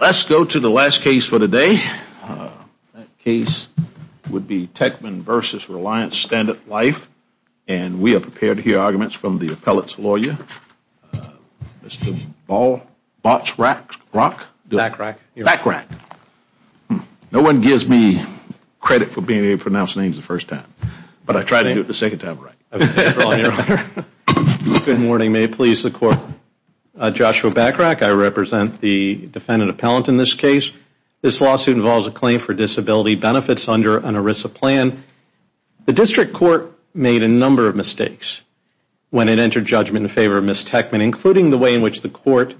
Let's go to the last case for today. That case would be Tekmen v. Reliance Standard Life. And we are prepared to hear arguments from the appellate's lawyer, Mr. Bachrach. Bachrach. No one gives me credit for being able to pronounce names the first time. But I tried to do it the second time. Good morning. May it please the Court. Joshua Bachrach. I represent the defendant appellant in this case. This lawsuit involves a claim for disability benefits under an ERISA plan. The district court made a number of mistakes when it entered judgment in favor of Ms. Tekmen, including the way in which the court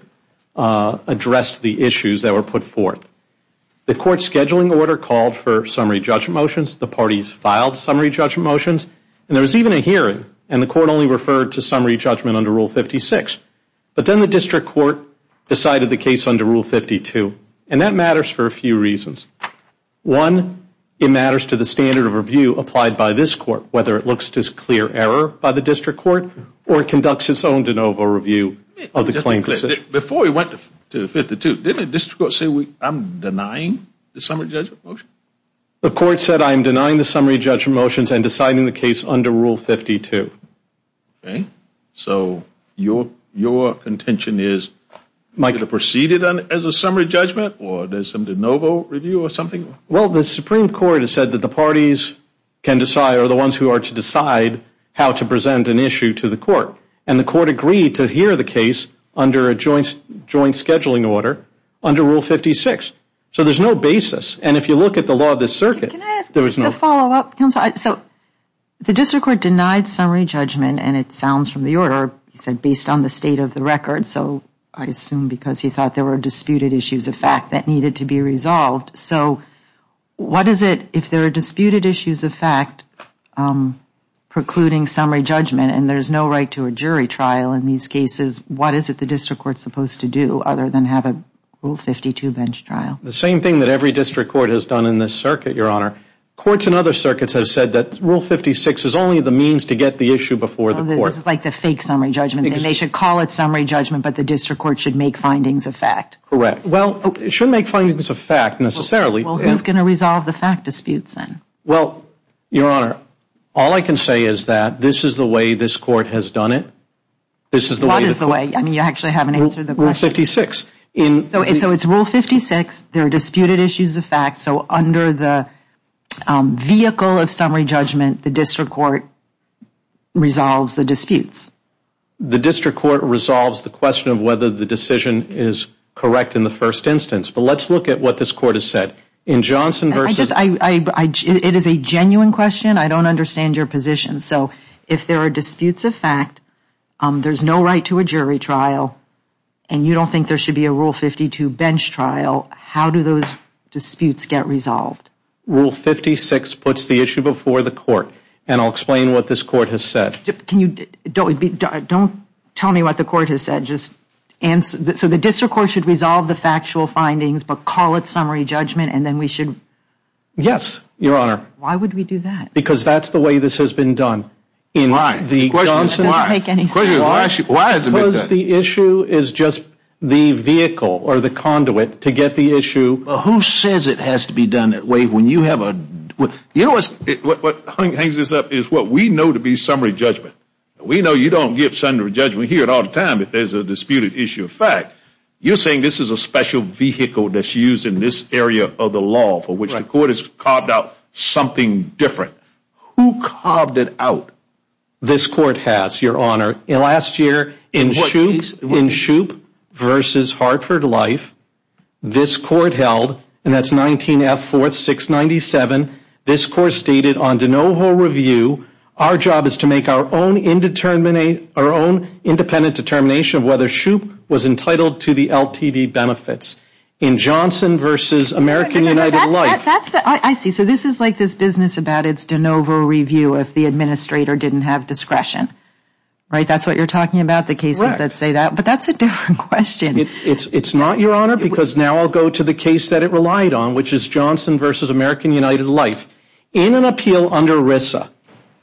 addressed the issues that were put forth. The court's scheduling order called for summary judgment motions. The parties filed summary judgment motions. And there was even a hearing, and the court only referred to summary judgment under Rule 56. But then the district court decided the case under Rule 52. And that matters for a few reasons. One, it matters to the standard of review applied by this court, whether it looks to clear error by the district court or conducts its own de novo review of the claim. Before we went to 52, didn't the district court say, I'm denying the summary judgment motion? The court said, I'm denying the summary judgment motions and deciding the case under Rule 52. Okay. So your contention is you're going to proceed it as a summary judgment, or there's some de novo review or something? Well, the Supreme Court has said that the parties can decide, or the ones who are to decide how to present an issue to the court. And the court agreed to hear the case under a joint scheduling order under Rule 56. So there's no basis. And if you look at the law of the circuit, there was no ---- Can I ask a follow-up, counsel? So the district court denied summary judgment, and it sounds from the order, he said, based on the state of the record. So I assume because he thought there were disputed issues of fact that needed to be resolved. So what is it, if there are disputed issues of fact precluding summary judgment, and there's no right to a jury trial in these cases, what is it the district court is supposed to do other than have a Rule 52 bench trial? The same thing that every district court has done in this circuit, Your Honor. Courts in other circuits have said that Rule 56 is only the means to get the issue before the court. This is like the fake summary judgment. They should call it summary judgment, but the district court should make findings of fact. Correct. Well, it shouldn't make findings of fact, necessarily. Well, who's going to resolve the fact disputes then? Well, Your Honor, all I can say is that this is the way this court has done it. What is the way? I mean, you actually haven't answered the question. Rule 56. So it's Rule 56. There are disputed issues of fact. So under the vehicle of summary judgment, the district court resolves the disputes. The district court resolves the question of whether the decision is correct in the first instance. But let's look at what this court has said. It is a genuine question. I don't understand your position. So if there are disputes of fact, there's no right to a jury trial, and you don't think there should be a Rule 52 bench trial, how do those disputes get resolved? Rule 56 puts the issue before the court, and I'll explain what this court has said. Don't tell me what the court has said. So the district court should resolve the factual findings, but call it summary judgment, and then we should? Yes, Your Honor. Why would we do that? Because that's the way this has been done. Why? The question doesn't make any sense. Why is it like that? Because the issue is just the vehicle or the conduit to get the issue. Who says it has to be done that way when you have a – you know what's – What hangs this up is what we know to be summary judgment. We know you don't give summary judgment here all the time if there's a disputed issue of fact. You're saying this is a special vehicle that's used in this area of the law for which the court has carved out something different. Who carved it out? This court has, Your Honor. Last year in Shoup v. Hartford Life, this court held, and that's 19-F-4-6-97, this court stated on de novo review, our job is to make our own independent determination of whether Shoup was entitled to the LTD benefits. In Johnson v. American United Life. I see. So this is like this business about it's de novo review if the administrator didn't have discretion. Right? That's what you're talking about, the cases that say that. But that's a different question. It's not, Your Honor, because now I'll go to the case that it relied on, which is Johnson v. American United Life. In an appeal under RISA,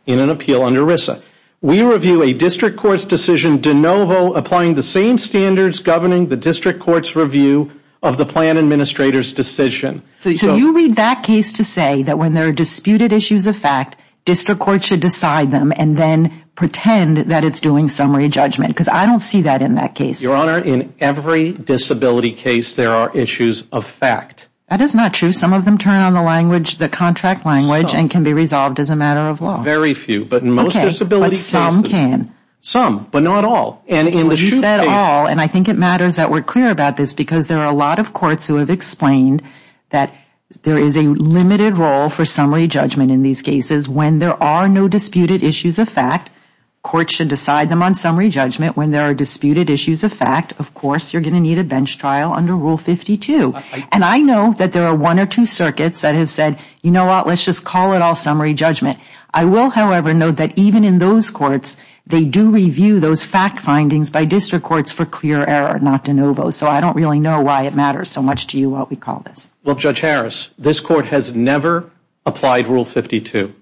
in an appeal under RISA, we review a district court's decision de novo, applying the same standards governing the district court's review of the plan administrator's decision. So you read that case to say that when there are disputed issues of fact, district court should decide them and then pretend that it's doing summary judgment, because I don't see that in that case. Your Honor, in every disability case there are issues of fact. That is not true. Some of them turn on the language, the contract language, and can be resolved as a matter of law. Very few, but in most disability cases. Okay, but some can. Some, but not all. And in the SHU case. You said all, and I think it matters that we're clear about this, because there are a lot of courts who have explained that there is a limited role for summary judgment in these cases. When there are no disputed issues of fact, courts should decide them on summary judgment. When there are disputed issues of fact, of course you're going to need a bench trial under Rule 52. And I know that there are one or two circuits that have said, you know what, let's just call it all summary judgment. I will, however, note that even in those courts, they do review those fact findings by district courts for clear error, not de novo. So I don't really know why it matters so much to you what we call this. Look, Judge Harris, this court has never applied Rule 52.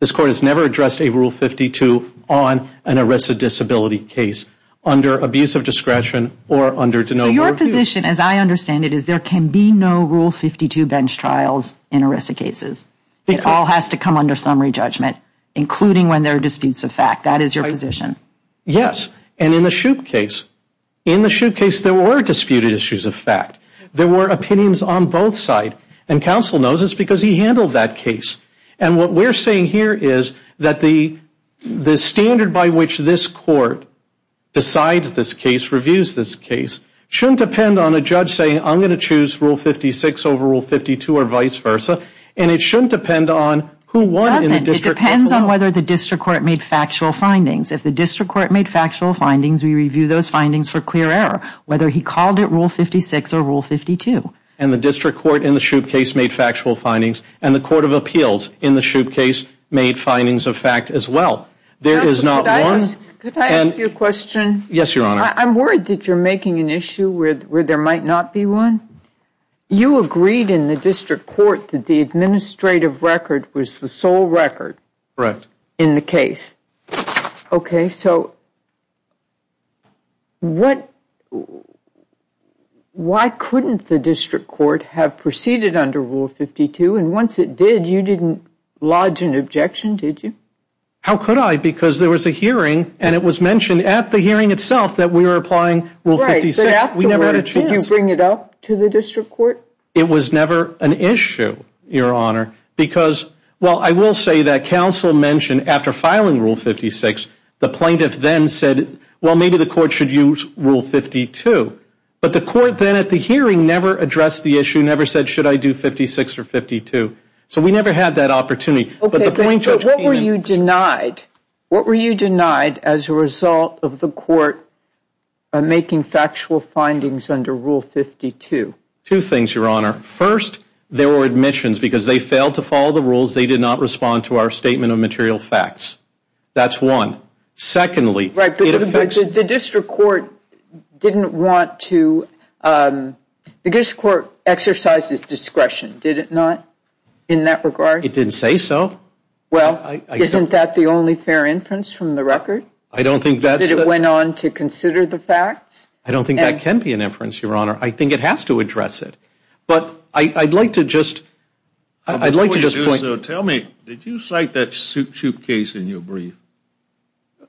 This court has never addressed a Rule 52 on an ARISA disability case under abuse of discretion or under de novo review. So your position, as I understand it, is there can be no Rule 52 bench trials in ARISA cases. It all has to come under summary judgment, including when there are disputes of fact. That is your position. Yes. And in the Shoup case, in the Shoup case, there were disputed issues of fact. There were opinions on both sides. And counsel knows this because he handled that case. And what we're saying here is that the standard by which this court decides this case, reviews this case, shouldn't depend on a judge saying, I'm going to choose Rule 56 over Rule 52 or vice versa. And it shouldn't depend on who won in the district court. It doesn't. It depends on whether the district court made factual findings. If the district court made factual findings, we review those findings for clear error, whether he called it Rule 56 or Rule 52. And the district court in the Shoup case made factual findings. And the court of appeals in the Shoup case made findings of fact as well. There is not one. Counsel, could I ask you a question? Yes, Your Honor. I'm worried that you're making an issue where there might not be one. You agreed in the district court that the administrative record was the sole record. Correct. In the case. Okay. So why couldn't the district court have proceeded under Rule 52? And once it did, you didn't lodge an objection, did you? How could I? Because there was a hearing, and it was mentioned at the hearing itself that we were applying Rule 56. Did you bring it up to the district court? It was never an issue, Your Honor, because, well, I will say that counsel mentioned after filing Rule 56, the plaintiff then said, well, maybe the court should use Rule 52. But the court then at the hearing never addressed the issue, never said, should I do 56 or 52. So we never had that opportunity. Okay. But what were you denied? What were you denied as a result of the court making factual findings under Rule 52? Two things, Your Honor. First, there were admissions because they failed to follow the rules. They did not respond to our statement of material facts. That's one. Secondly, it affects. But the district court didn't want to. The district court exercised its discretion, did it not, in that regard? It didn't say so. Well, isn't that the only fair inference from the record? I don't think that's the. That it went on to consider the facts? I don't think that can be an inference, Your Honor. I think it has to address it. But I'd like to just, I'd like to just point. Tell me, did you cite that soup case in your brief?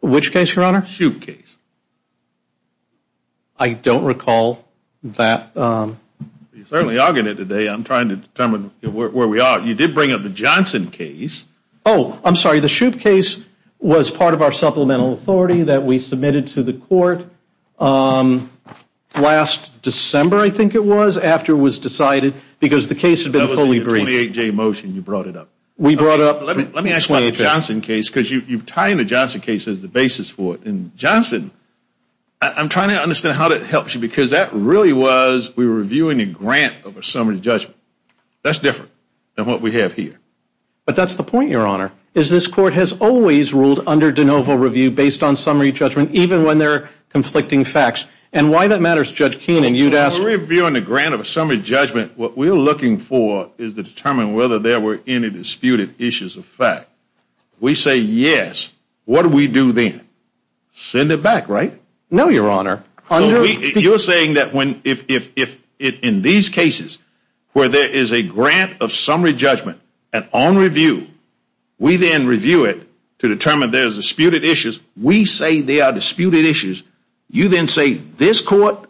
Which case, Your Honor? Soup case. I don't recall that. You certainly are getting it today. I'm trying to determine where we are. You did bring up the Johnson case. Oh, I'm sorry. The soup case was part of our supplemental authority that we submitted to the court last December, I think it was, after it was decided because the case had been fully briefed. That was the 28-J motion. You brought it up. We brought up. Let me ask about the Johnson case because you tie in the Johnson case as the basis for it. And Johnson, I'm trying to understand how that helps you because that really was, we were reviewing a grant over summary judgment. That's different than what we have here. But that's the point, Your Honor, is this court has always ruled under de novo review based on summary judgment, even when there are conflicting facts. And why that matters, Judge Keenan, you'd ask. When we're reviewing a grant of a summary judgment, what we're looking for is to determine whether there were any disputed issues of fact. We say yes. What do we do then? Send it back, right? No, Your Honor. You're saying that if in these cases where there is a grant of summary judgment and on review, we then review it to determine there's disputed issues, we say there are disputed issues, you then say this court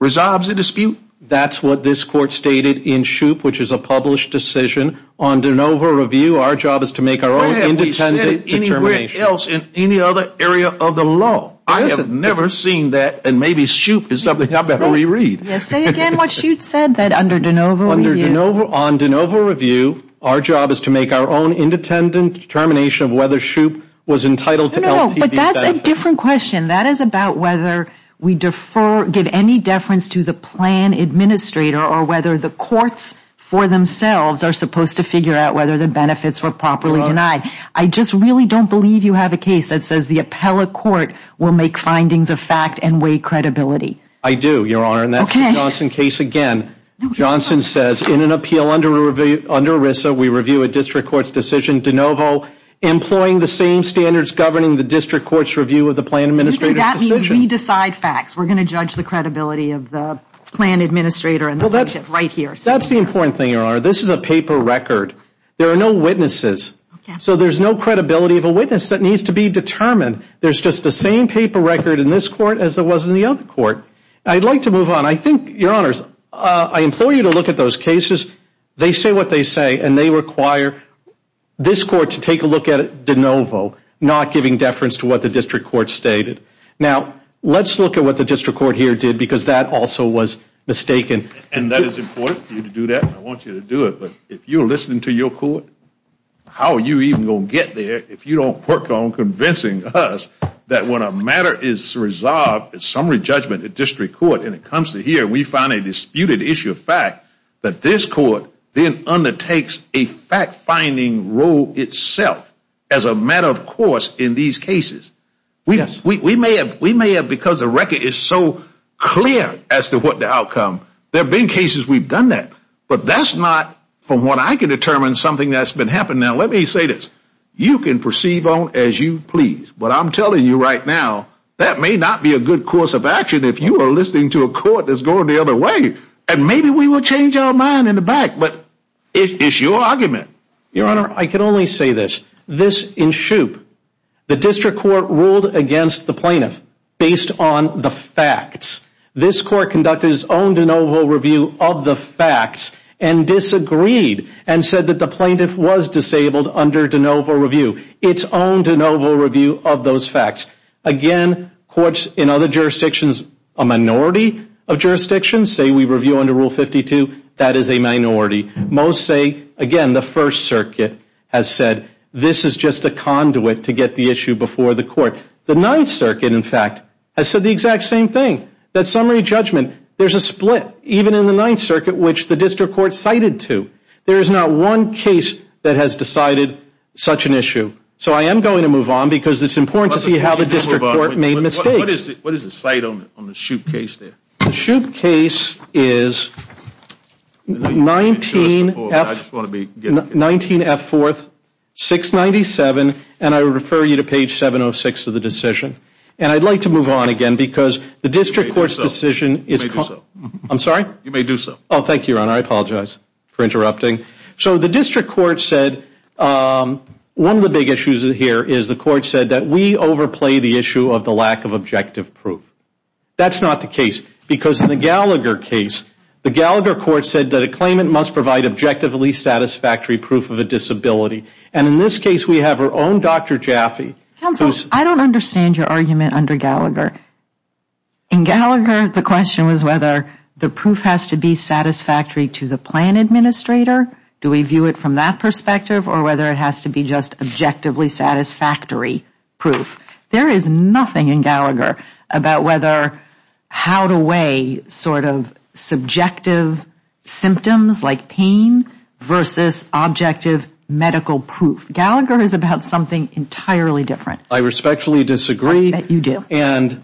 resolves the dispute? That's what this court stated in Shoup, which is a published decision on de novo review. Our job is to make our own independent determination. We haven't said it anywhere else in any other area of the law. I have never seen that, and maybe Shoup is something I better reread. Say again what Shoup said, that under de novo review. On de novo review, our job is to make our own independent determination of whether Shoup was entitled to LTV benefits. No, but that's a different question. That is about whether we defer, give any deference to the plan administrator or whether the courts for themselves are supposed to figure out whether the benefits were properly denied. I just really don't believe you have a case that says the appellate court will make findings of fact and weigh credibility. I do, Your Honor, and that's the Johnson case again. Johnson says in an appeal under ERISA, we review a district court's decision de novo, employing the same standards governing the district court's review of the plan administrator's decision. That means we decide facts. We're going to judge the credibility of the plan administrator and the plaintiff right here. That's the important thing, Your Honor. This is a paper record. There are no witnesses. So there's no credibility of a witness that needs to be determined. There's just the same paper record in this court as there was in the other court. I'd like to move on. I think, Your Honors, I implore you to look at those cases. They say what they say, and they require this court to take a look at it de novo, not giving deference to what the district court stated. Now, let's look at what the district court here did because that also was mistaken. And that is important for you to do that. I want you to do it. But if you're listening to your court, how are you even going to get there if you don't work on convincing us that when a matter is resolved, a summary judgment at district court, and it comes to here and we find a disputed issue of fact, that this court then undertakes a fact-finding role itself as a matter of course in these cases. We may have because the record is so clear as to what the outcome. There have been cases we've done that. But that's not, from what I can determine, something that's been happening. Now, let me say this. You can perceive on as you please. But I'm telling you right now, that may not be a good course of action if you are listening to a court that's going the other way. And maybe we will change our mind in the back. But it's your argument. Your Honor, I can only say this. This in Shoup, the district court ruled against the plaintiff based on the facts. This court conducted its own de novo review of the facts and disagreed and said that the plaintiff was disabled under de novo review. Its own de novo review of those facts. Again, courts in other jurisdictions, a minority of jurisdictions, say we review under Rule 52, that is a minority. Most say, again, the First Circuit has said, the Ninth Circuit, in fact, has said the exact same thing. That summary judgment, there's a split, even in the Ninth Circuit, which the district court cited to. There is not one case that has decided such an issue. So I am going to move on because it's important to see how the district court made mistakes. What is the site on the Shoup case there? The Shoup case is 19F4, 697, and I refer you to page 706 of the decision. And I'd like to move on again because the district court's decision is... You may do so. I'm sorry? You may do so. Oh, thank you, Your Honor. I apologize for interrupting. So the district court said, one of the big issues here is the court said that we overplay the issue of the lack of objective proof. That's not the case because in the Gallagher case, the Gallagher court said that a claimant must provide objectively satisfactory proof of a disability. And in this case, we have our own Dr. Jaffe. Counsel, I don't understand your argument under Gallagher. In Gallagher, the question was whether the proof has to be satisfactory to the plan administrator. Do we view it from that perspective or whether it has to be just objectively satisfactory proof? There is nothing in Gallagher about whether how to weigh sort of subjective symptoms like pain versus objective medical proof. Gallagher is about something entirely different. I respectfully disagree. I bet you do. And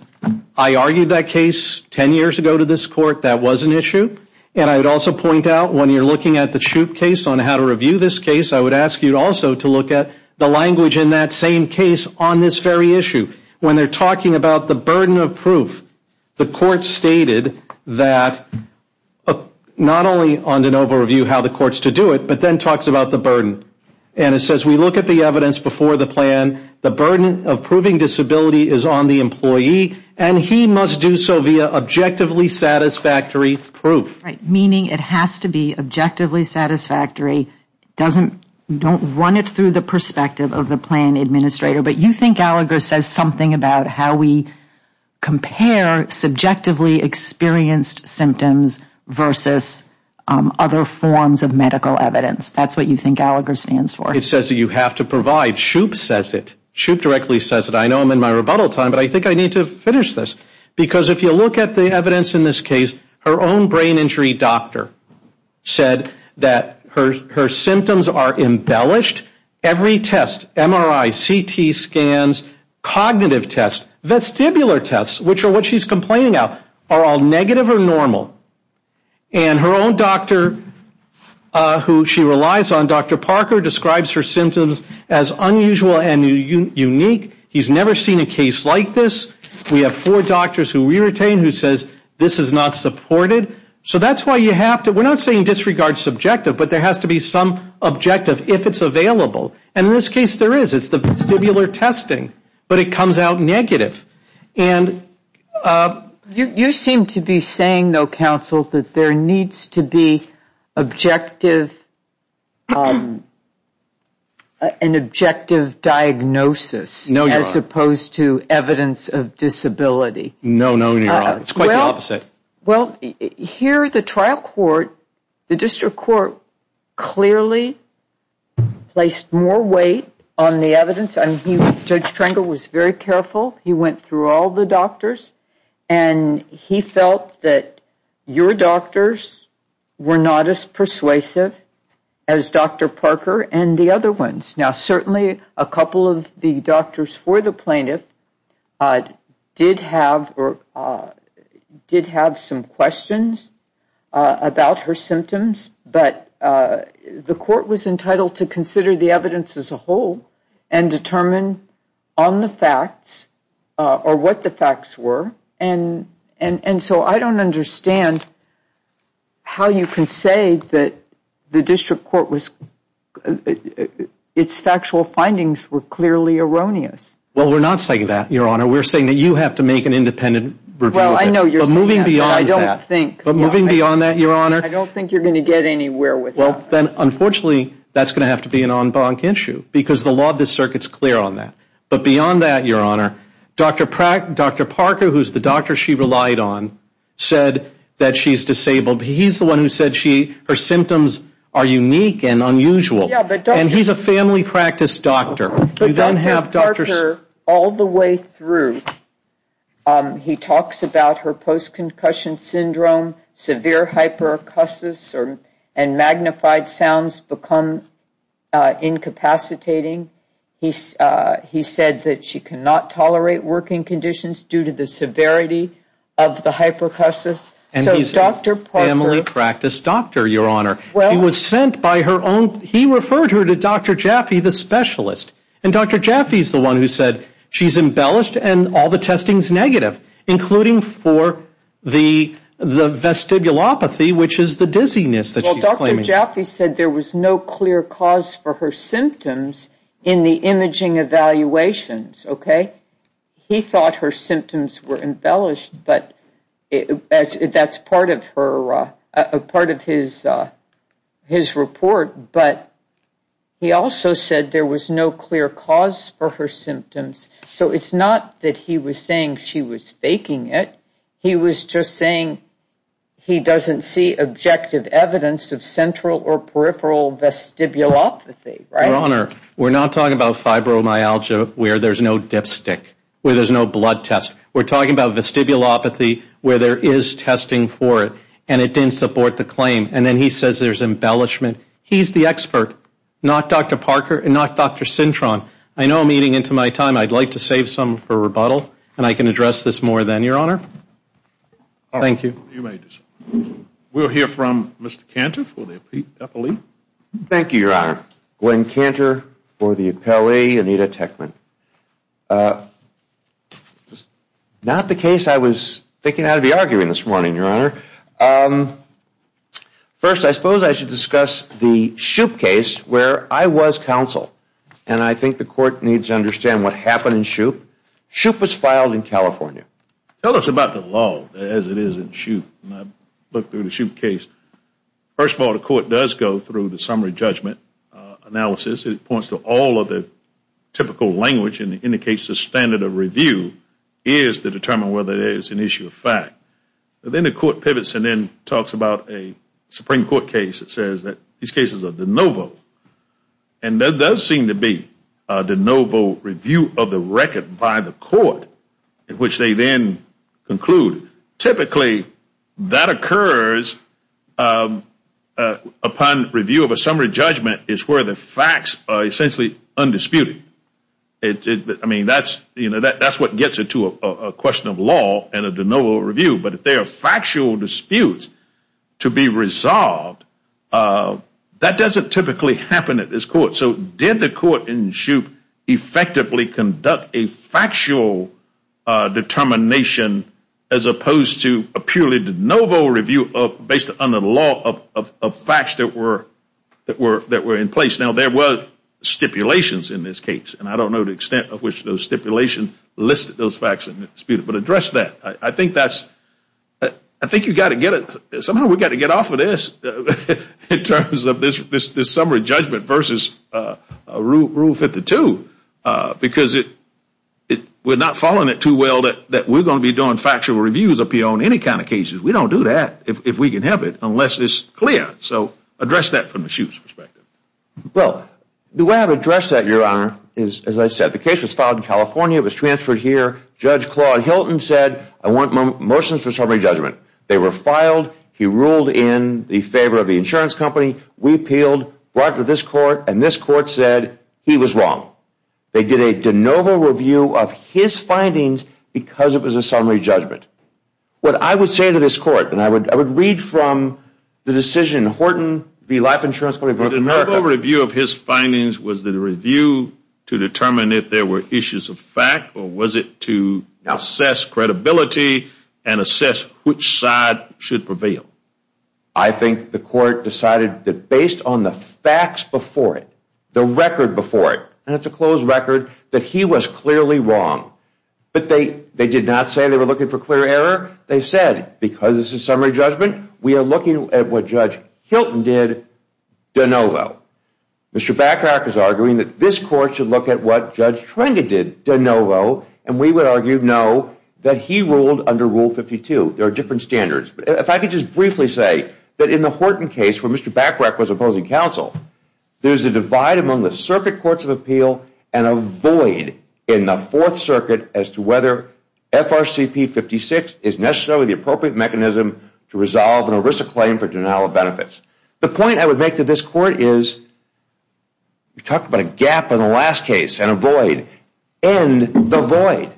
I argued that case 10 years ago to this court. That was an issue. And I would also point out when you're looking at the Shoup case on how to review this case, I would ask you also to look at the language in that same case on this very issue. When they're talking about the burden of proof, the court stated that not only on de novo review how the court is to do it, but then talks about the burden. And it says we look at the evidence before the plan. The burden of proving disability is on the employee. And he must do so via objectively satisfactory proof. Meaning it has to be objectively satisfactory. Don't run it through the perspective of the plan administrator. But you think Gallagher says something about how we compare subjectively experienced symptoms versus other forms of medical evidence. That's what you think Gallagher stands for. It says that you have to provide. Shoup says it. Shoup directly says it. I know I'm in my rebuttal time, but I think I need to finish this. Because if you look at the evidence in this case, her own brain injury doctor said that her symptoms are embellished. Every test, MRI, CT scans, cognitive tests, vestibular tests, which are what she's complaining about, are all negative or normal. And her own doctor who she relies on, Dr. Parker, describes her symptoms as unusual and unique. He's never seen a case like this. We have four doctors who we retain who says this is not supported. So that's why you have to, we're not saying disregard subjective, but there has to be some objective if it's available. And in this case there is. It's the vestibular testing. But it comes out negative. You seem to be saying, though, counsel, that there needs to be objective, an objective diagnosis as opposed to evidence of disability. No, no, it's quite the opposite. Well, here the trial court, the district court, clearly placed more weight on the evidence. Judge Trengel was very careful. He went through all the doctors. And he felt that your doctors were not as persuasive as Dr. Parker and the other ones. Now, certainly a couple of the doctors for the plaintiff did have some questions about her symptoms. But the court was entitled to consider the evidence as a whole and determine on the facts or what the facts were. And so I don't understand how you can say that the district court was, its factual findings were clearly erroneous. Well, we're not saying that, Your Honor. We're saying that you have to make an independent review. Well, I know you're saying that, but I don't think. But moving beyond that, Your Honor. I don't think you're going to get anywhere with that. Well, then, unfortunately, that's going to have to be an en banc issue because the law of the circuit is clear on that. But beyond that, Your Honor, Dr. Parker, who's the doctor she relied on, said that she's disabled. He's the one who said her symptoms are unique and unusual. And he's a family practice doctor. But Dr. Parker, all the way through, he talks about her post-concussion syndrome, severe hyperacusis, and magnified sounds become incapacitating. He said that she cannot tolerate working conditions due to the severity of the hyperacusis. And he's a family practice doctor, Your Honor. He was sent by her own. He referred her to Dr. Jaffe, the specialist. And Dr. Jaffe's the one who said she's embellished and all the testing's negative, including for the vestibulopathy, which is the dizziness that she's claiming. Well, Dr. Jaffe said there was no clear cause for her symptoms in the imaging evaluations, okay? He thought her symptoms were embellished, but that's part of his report. But he also said there was no clear cause for her symptoms. So it's not that he was saying she was faking it. He was just saying he doesn't see objective evidence of central or peripheral vestibulopathy, right? Your Honor, we're not talking about fibromyalgia where there's no dipstick, where there's no blood test. We're talking about vestibulopathy where there is testing for it, and it didn't support the claim. And then he says there's embellishment. He's the expert, not Dr. Parker and not Dr. Cintron. I know I'm eating into my time. I'd like to save some for rebuttal, and I can address this more then, Your Honor. Thank you. You may do so. We'll hear from Mr. Cantor for the appellee. Thank you, Your Honor. Glenn Cantor for the appellee. Anita Techman. Not the case I was thinking I'd be arguing this morning, Your Honor. First, I suppose I should discuss the Shoup case where I was counsel, and I think the court needs to understand what happened in Shoup. Shoup was filed in California. Tell us about the law as it is in Shoup. I looked through the Shoup case. First of all, the court does go through the summary judgment analysis. It points to all of the typical language and indicates the standard of review is to determine whether it is an issue of fact. Then the court pivots and then talks about a Supreme Court case that says that these cases are de novo, and there does seem to be a de novo review of the record by the court in which they then conclude. Typically, that occurs upon review of a summary judgment is where the facts are essentially undisputed. I mean, that's what gets it to a question of law and a de novo review, but if there are factual disputes to be resolved, that doesn't typically happen at this court. So did the court in Shoup effectively conduct a factual determination as opposed to a purely de novo review based on the law of facts that were in place? Now, there were stipulations in this case, and I don't know the extent of which those stipulations listed those facts in the dispute, but address that. I think you've got to get it. Somehow we've got to get off of this in terms of this summary judgment versus Rule 52, because we're not following it too well that we're going to be doing factual reviews of any kind of cases. We don't do that if we can have it unless it's clear. So address that from the Shoup's perspective. Well, the way I've addressed that, Your Honor, is as I said, the case was filed in California. It was transferred here. Judge Claude Hilton said, I want motions for summary judgment. They were filed. He ruled in the favor of the insurance company. We appealed, brought to this court, and this court said he was wrong. They did a de novo review of his findings because it was a summary judgment. What I would say to this court, and I would read from the decision, Horton v. Life Insurance Company v. America. The de novo review of his findings was the review to determine if there were issues of fact or was it to assess credibility and assess which side should prevail? I think the court decided that based on the facts before it, the record before it, and it's a closed record, that he was clearly wrong. But they did not say they were looking for clear error. They said, because it's a summary judgment, we are looking at what Judge Hilton did de novo. Mr. Bacharach is arguing that this court should look at what Judge Trenda did de novo, and we would argue no, that he ruled under Rule 52. There are different standards. If I could just briefly say that in the Horton case where Mr. Bacharach was opposing counsel, there's a divide among the circuit courts of appeal and a void in the Fourth Circuit as to whether FRCP 56 is necessarily the appropriate mechanism to resolve an ERISA claim for denial of benefits. The point I would make to this court is we talked about a gap in the last case and a void. End the void.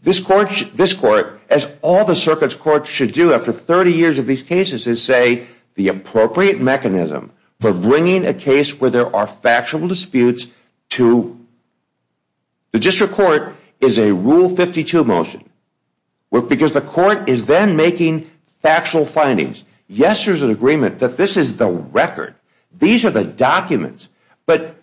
This court, as all the circuit courts should do after 30 years of these cases, is say the appropriate mechanism for bringing a case where there are factual disputes to the district court is a Rule 52 motion because the court is then making factual findings. Yes, there's an agreement that this is the record. These are the documents. But,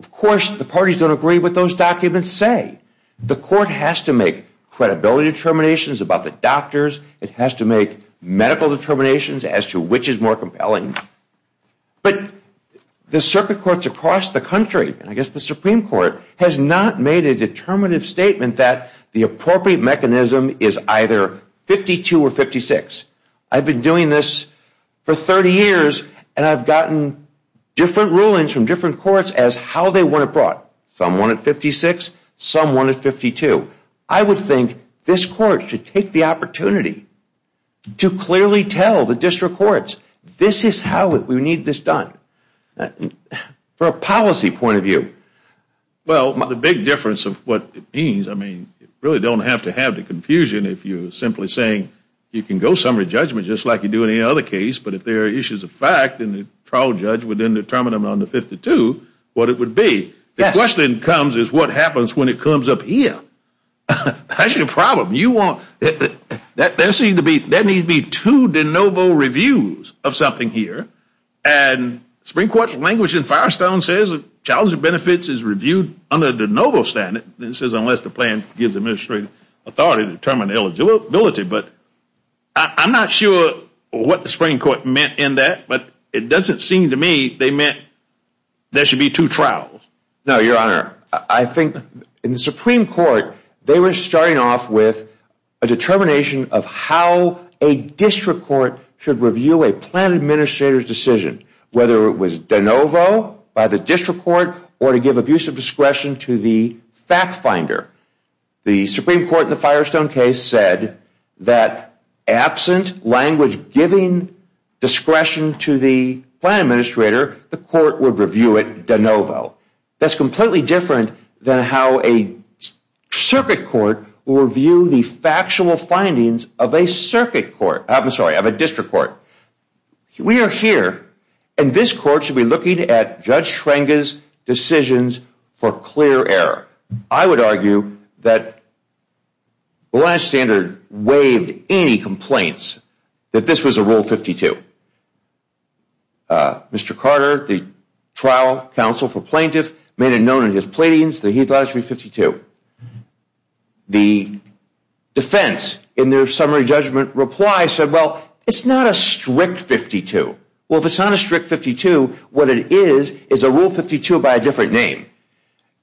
of course, the parties don't agree what those documents say. The court has to make credibility determinations about the doctors. It has to make medical determinations as to which is more compelling. But the circuit courts across the country, and I guess the Supreme Court, has not made a determinative statement that the appropriate mechanism is either 52 or 56. I've been doing this for 30 years, and I've gotten different rulings from different courts as how they want it brought. Some want it 56. Some want it 52. I would think this court should take the opportunity to clearly tell the district courts this is how we need this done from a policy point of view. Well, the big difference of what it means, I mean, you really don't have to have the confusion if you're simply saying you can go summary judgment just like you do in any other case, but if there are issues of fact and the trial judge would then determine on the 52 what it would be. The question comes is what happens when it comes up here. That's your problem. That needs to be two de novo reviews of something here, and the Supreme Court's language in Firestone says the challenge of benefits is reviewed under the de novo standard. It says unless the plan gives administrative authority to determine eligibility, but I'm not sure what the Supreme Court meant in that, but it doesn't seem to me they meant there should be two trials. No, Your Honor. I think in the Supreme Court, they were starting off with a determination of how a district court should review a plan administrator's decision, whether it was de novo by the district court or to give abusive discretion to the fact finder. The Supreme Court in the Firestone case said that absent language giving discretion to the plan administrator, the court would review it de novo. That's completely different than how a circuit court will review the factual findings of a circuit court. I'm sorry, of a district court. We are here, and this court should be looking at Judge Schrenger's decisions for clear error. I would argue that the last standard waived any complaints that this was a Rule 52. Mr. Carter, the trial counsel for plaintiffs, made it known in his pleadings that he thought it should be 52. The defense in their summary judgment reply said, well, it's not a strict 52. Well, if it's not a strict 52, what it is is a Rule 52 by a different name.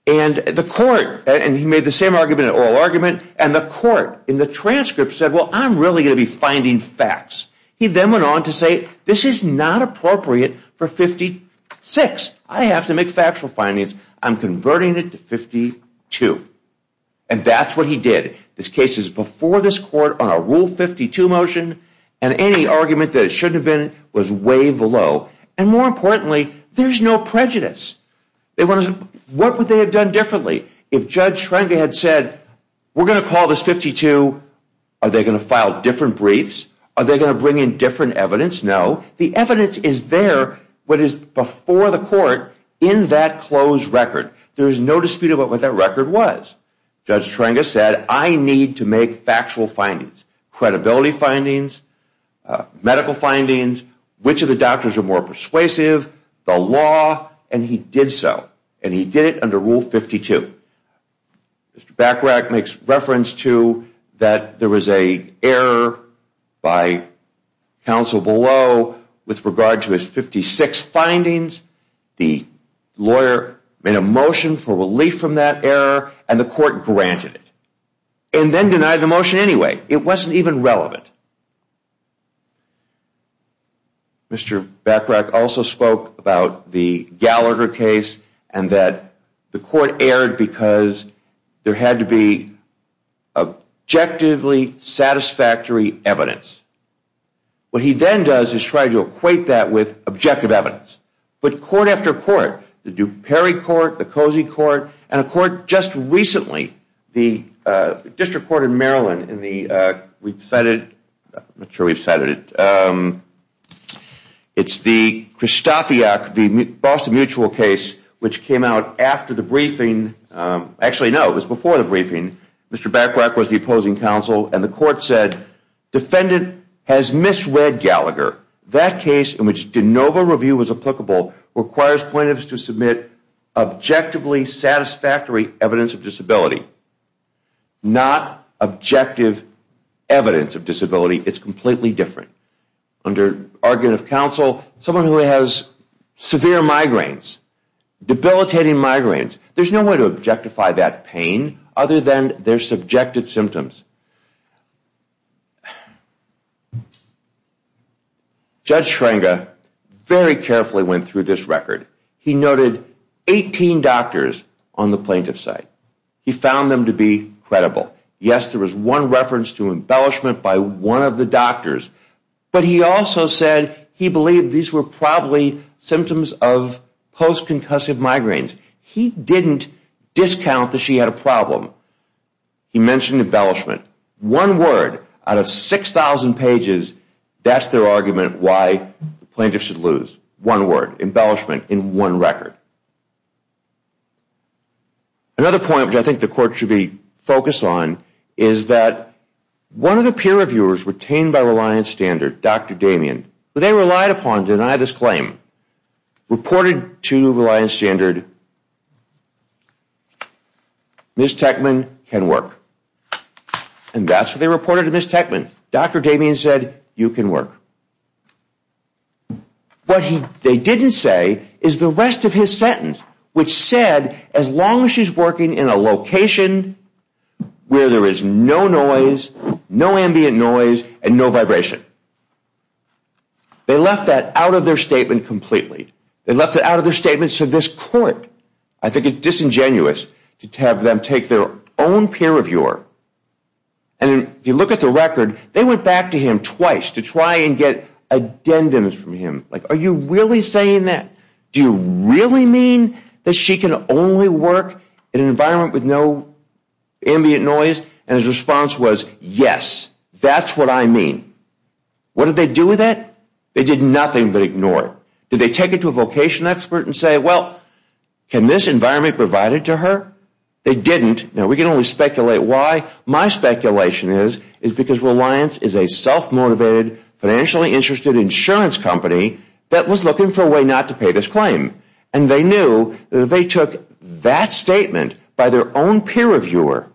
And the court, and he made the same argument in oral argument, and the court in the transcript said, well, I'm really going to be finding facts. He then went on to say, this is not appropriate for 56. I have to make factual findings. I'm converting it to 52. And that's what he did. This case is before this court on a Rule 52 motion, and any argument that it shouldn't have been was way below. And more importantly, there's no prejudice. What would they have done differently if Judge Schrenger had said, we're going to call this 52. Are they going to file different briefs? Are they going to bring in different evidence? No. The evidence is there, what is before the court, in that closed record. There is no dispute about what that record was. Judge Schrenger said, I need to make factual findings, credibility findings, medical findings, which of the doctors are more persuasive, the law, and he did so, and he did it under Rule 52. Mr. Bachrach makes reference to that there was an error by counsel below with regard to his 56 findings. The lawyer made a motion for relief from that error, and the court granted it. And then denied the motion anyway. It wasn't even relevant. Mr. Bachrach also spoke about the Gallagher case, and that the court erred because there had to be objectively satisfactory evidence. What he then does is try to equate that with objective evidence. But court after court, the Duperre Court, the Cozy Court, and a court just recently, the District Court of Maryland in the, I'm not sure we've cited it, it's the Christofiak, the Boston Mutual case, which came out after the briefing. Actually, no, it was before the briefing. Mr. Bachrach was the opposing counsel, and the court said, defendant has misread Gallagher. That case, in which de novo review was applicable, requires plaintiffs to submit objectively satisfactory evidence of disability. Not objective evidence of disability. It's completely different. Under argument of counsel, someone who has severe migraines, debilitating migraines, there's no way to objectify that pain other than their subjective symptoms. Judge Schrenga very carefully went through this record. He noted 18 doctors on the plaintiff's side. He found them to be credible. Yes, there was one reference to embellishment by one of the doctors. But he also said he believed these were probably symptoms of post-concussive migraines. He didn't discount that she had a problem. He mentioned embellishment. One word out of 6,000 pages, that's their argument why the plaintiff should lose. One word, embellishment in one record. Another point, which I think the court should be focused on, is that one of the peer reviewers retained by Reliance Standard, Dr. Damien, who they relied upon to deny this claim, reported to Reliance Standard, Ms. Techman can work. And that's what they reported to Ms. Techman. Dr. Damien said, you can work. What they didn't say is the rest of his sentence, which said, as long as she's working in a location where there is no noise, no ambient noise, and no vibration. They left that out of their statement completely. They left it out of their statement, so this court, I think it's disingenuous to have them take their own peer reviewer, and if you look at the record, they went back to him twice to try and get addendums from him. Are you really saying that? Do you really mean that she can only work in an environment with no ambient noise? And his response was, yes, that's what I mean. What did they do with that? They did nothing but ignore it. Did they take it to a vocation expert and say, well, can this environment be provided to her? They didn't. Now, we can only speculate why. My speculation is because Reliance is a self-motivated, financially interested insurance company that was looking for a way not to pay this claim, and they knew that if they took that statement by their own peer reviewer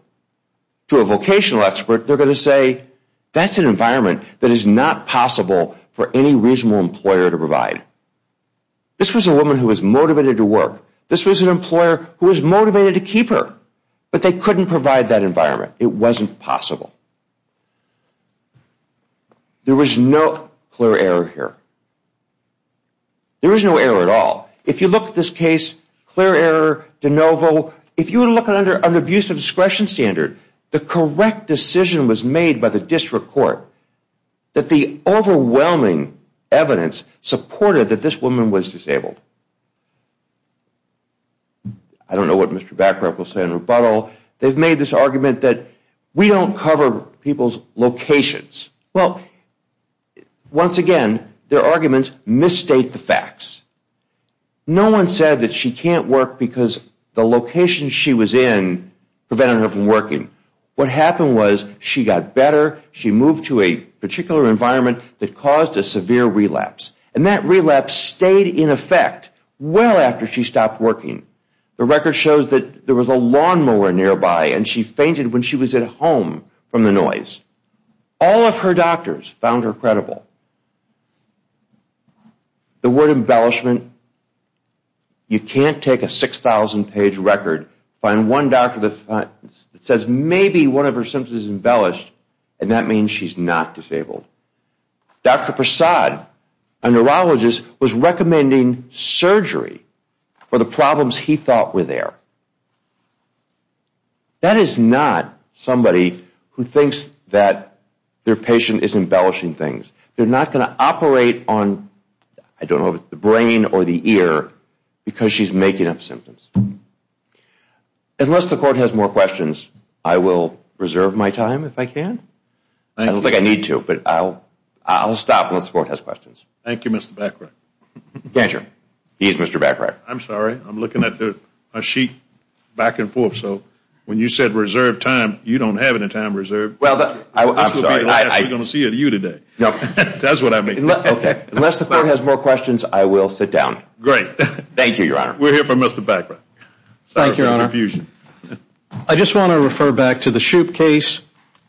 to a vocational expert, they're going to say, that's an environment that is not possible for any reasonable employer to provide. This was a woman who was motivated to work. This was an employer who was motivated to keep her, but they couldn't provide that environment. It wasn't possible. There was no clear error here. There was no error at all. If you look at this case, clear error, de novo. If you were looking under an abusive discretion standard, the correct decision was made by the district court that the overwhelming evidence supported that this woman was disabled. I don't know what Mr. Backrup will say in rebuttal. They've made this argument that we don't cover people's locations. Well, once again, their arguments misstate the facts. No one said that she can't work because the location she was in prevented her from working. What happened was she got better. She moved to a particular environment that caused a severe relapse, and that relapse stayed in effect well after she stopped working. The record shows that there was a lawnmower nearby, and she fainted when she was at home from the noise. All of her doctors found her credible. The word embellishment, you can't take a 6,000-page record, find one doctor that says maybe one of her symptoms is embellished, and that means she's not disabled. Dr. Prasad, a neurologist, was recommending surgery for the problems he thought were there. That is not somebody who thinks that their patient is embellishing things. They're not going to operate on, I don't know, the brain or the ear because she's making up symptoms. Unless the court has more questions, I will reserve my time if I can. I don't think I need to, but I'll stop unless the court has questions. Thank you, Mr. Bacharach. Ganger. He's Mr. Bacharach. I'm sorry. I'm looking at a sheet back and forth, so when you said reserve time, you don't have any time reserved. This will be the last we're going to see of you today. That's what I mean. Unless the court has more questions, I will sit down. Great. Thank you, Your Honor. We'll hear from Mr. Bacharach. Thank you, Your Honor. I just want to refer back to the Shoup case.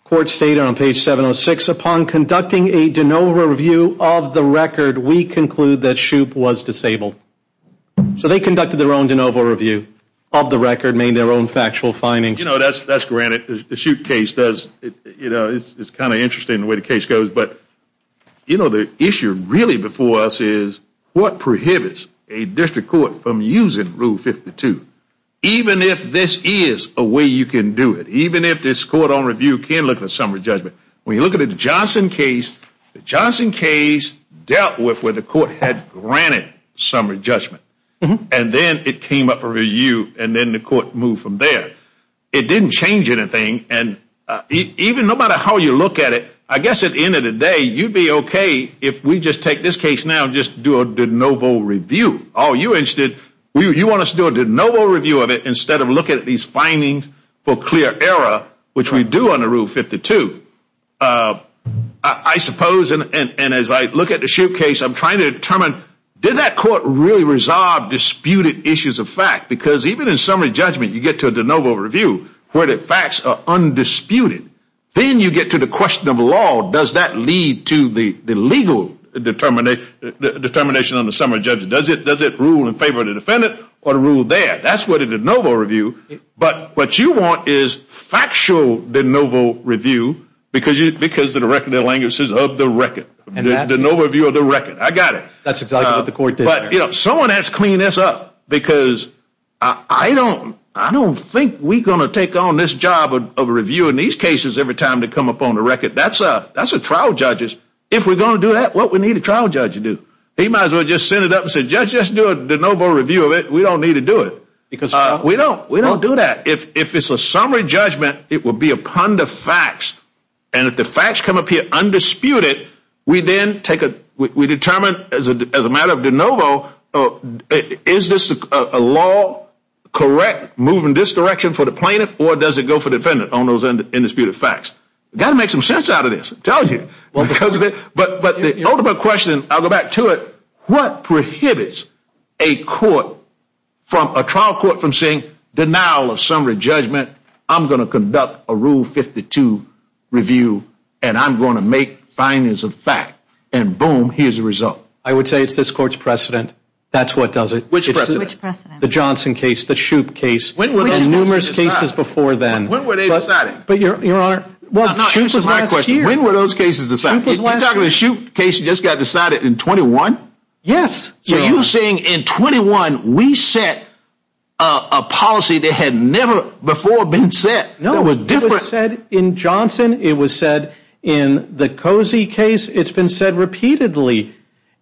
Court stated on page 706, upon conducting a de novo review of the record, we conclude that Shoup was disabled. So they conducted their own de novo review of the record, made their own factual findings. You know, that's granted. The Shoup case does, you know, it's kind of interesting the way the case goes. But, you know, the issue really before us is what prohibits a district court from using Rule 52 even if this is a way you can do it, even if this court on review can look at summary judgment. When you look at the Johnson case, the Johnson case dealt with where the court had granted summary judgment. And then it came up for review, and then the court moved from there. It didn't change anything. And even no matter how you look at it, I guess at the end of the day, you'd be okay if we just take this case now and just do a de novo review. All you're interested, you want us to do a de novo review of it instead of looking at these findings for clear error, which we do under Rule 52. I suppose, and as I look at the Shoup case, I'm trying to determine, did that court really resolve disputed issues of fact? Because even in summary judgment, you get to a de novo review where the facts are undisputed. Then you get to the question of law. Does that lead to the legal determination on the summary judgment? Does it rule in favor of the defendant or rule there? That's what a de novo review. But what you want is factual de novo review because of the reckoning of the record, the de novo view of the record. I got it. That's exactly what the court did there. But someone has to clean this up because I don't think we're going to take on this job of reviewing these cases every time they come up on the record. That's trial judges. If we're going to do that, what would a trial judge do? He might as well just send it up and say, Judge, let's do a de novo review of it. We don't need to do it. We don't do that. If it's a summary judgment, it would be a pun to facts. And if the facts come up here undisputed, we determine as a matter of de novo, is this a law correct moving this direction for the plaintiff or does it go for the defendant on those undisputed facts? Got to make some sense out of this. I'm telling you. But the ultimate question, I'll go back to it, what prohibits a trial court from saying, Denial of summary judgment, I'm going to conduct a Rule 52 review and I'm going to make findings of fact, and boom, here's the result. I would say it's this court's precedent. That's what does it. Which precedent? The Johnson case, the Shoup case, and numerous cases before then. When were they decided? Your Honor, Shoup was last year. When were those cases decided? You're talking about the Shoup case that just got decided in 21? Yes. So you're saying in 21 we set a policy that had never before been set? No. It was said in Johnson. It was said in the Cozy case. It's been said repeatedly.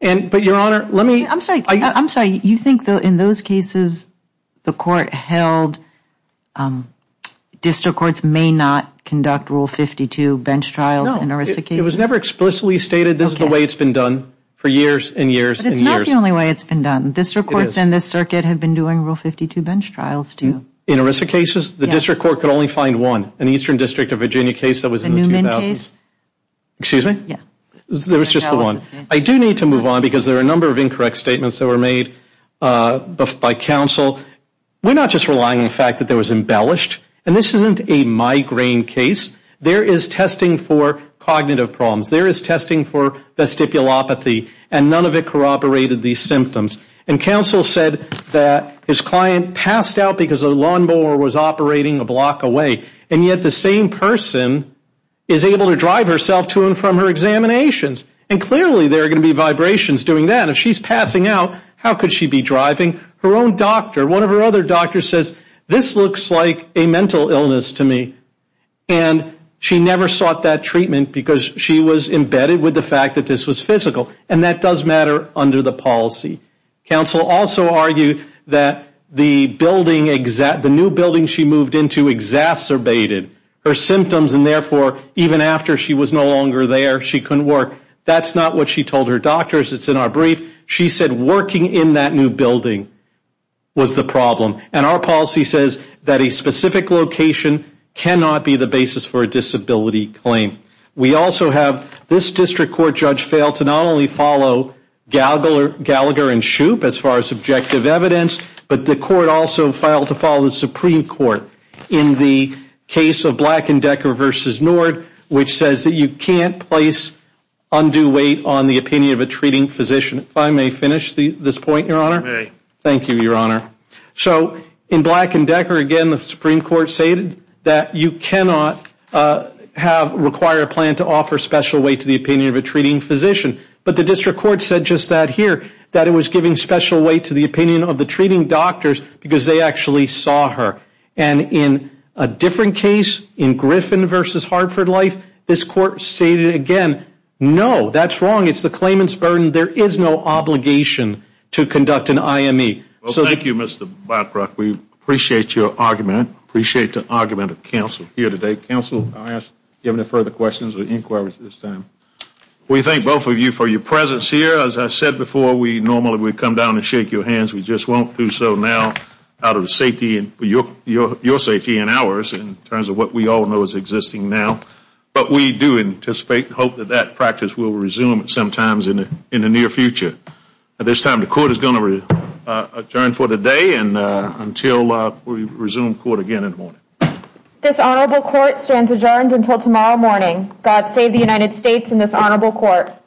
But, Your Honor, let me. I'm sorry. You think in those cases the court held district courts may not conduct Rule 52 bench trials in ERISA cases? No. It was never explicitly stated this is the way it's been done for years and years and years. But it's not the only way it's been done. District courts in this circuit have been doing Rule 52 bench trials too. In ERISA cases? Yes. The district court could only find one, an Eastern District of Virginia case that was in the 2000s. The Newman case? Excuse me? Yes. There was just the one. I do need to move on because there are a number of incorrect statements that were made by counsel. We're not just relying on the fact that there was embellished, and this isn't a migraine case. There is testing for cognitive problems. There is testing for vestibulopathy, and none of it corroborated these symptoms. And counsel said that his client passed out because the lawnmower was operating a block away, and yet the same person is able to drive herself to and from her examinations. And clearly there are going to be vibrations doing that. If she's passing out, how could she be driving? Her own doctor, one of her other doctors, says this looks like a mental illness to me. And she never sought that treatment because she was embedded with the fact that this was physical, and that does matter under the policy. Counsel also argued that the building, the new building she moved into exacerbated her symptoms, and therefore even after she was no longer there, she couldn't work. That's not what she told her doctors. It's in our brief. She said working in that new building was the problem. And our policy says that a specific location cannot be the basis for a disability claim. We also have this district court judge fail to not only follow Gallagher and Shoup as far as subjective evidence, but the court also failed to follow the Supreme Court in the case of Black & Decker v. Nord, which says that you can't place undue weight on the opinion of a treating physician. If I may finish this point, Your Honor. Thank you, Your Honor. So in Black & Decker, again, the Supreme Court stated that you cannot require a plan to offer special weight to the opinion of a treating physician. But the district court said just that here, that it was giving special weight to the opinion of the treating doctors because they actually saw her. And in a different case, in Griffin v. Hartford Life, this court stated again, no, that's wrong. It's the claimant's burden. There is no obligation to conduct an IME. Well, thank you, Mr. Blackrock. We appreciate your argument. Appreciate the argument of counsel here today. Counsel, do you have any further questions or inquiries at this time? We thank both of you for your presence here. As I said before, we normally would come down and shake your hands. We just won't do so now out of the safety and your safety and ours in terms of what we all know is existing now. But we do anticipate and hope that that practice will resume sometimes in the near future. At this time, the court is going to adjourn for the day until we resume court again in the morning. This honorable court stands adjourned until tomorrow morning. God save the United States and this honorable court.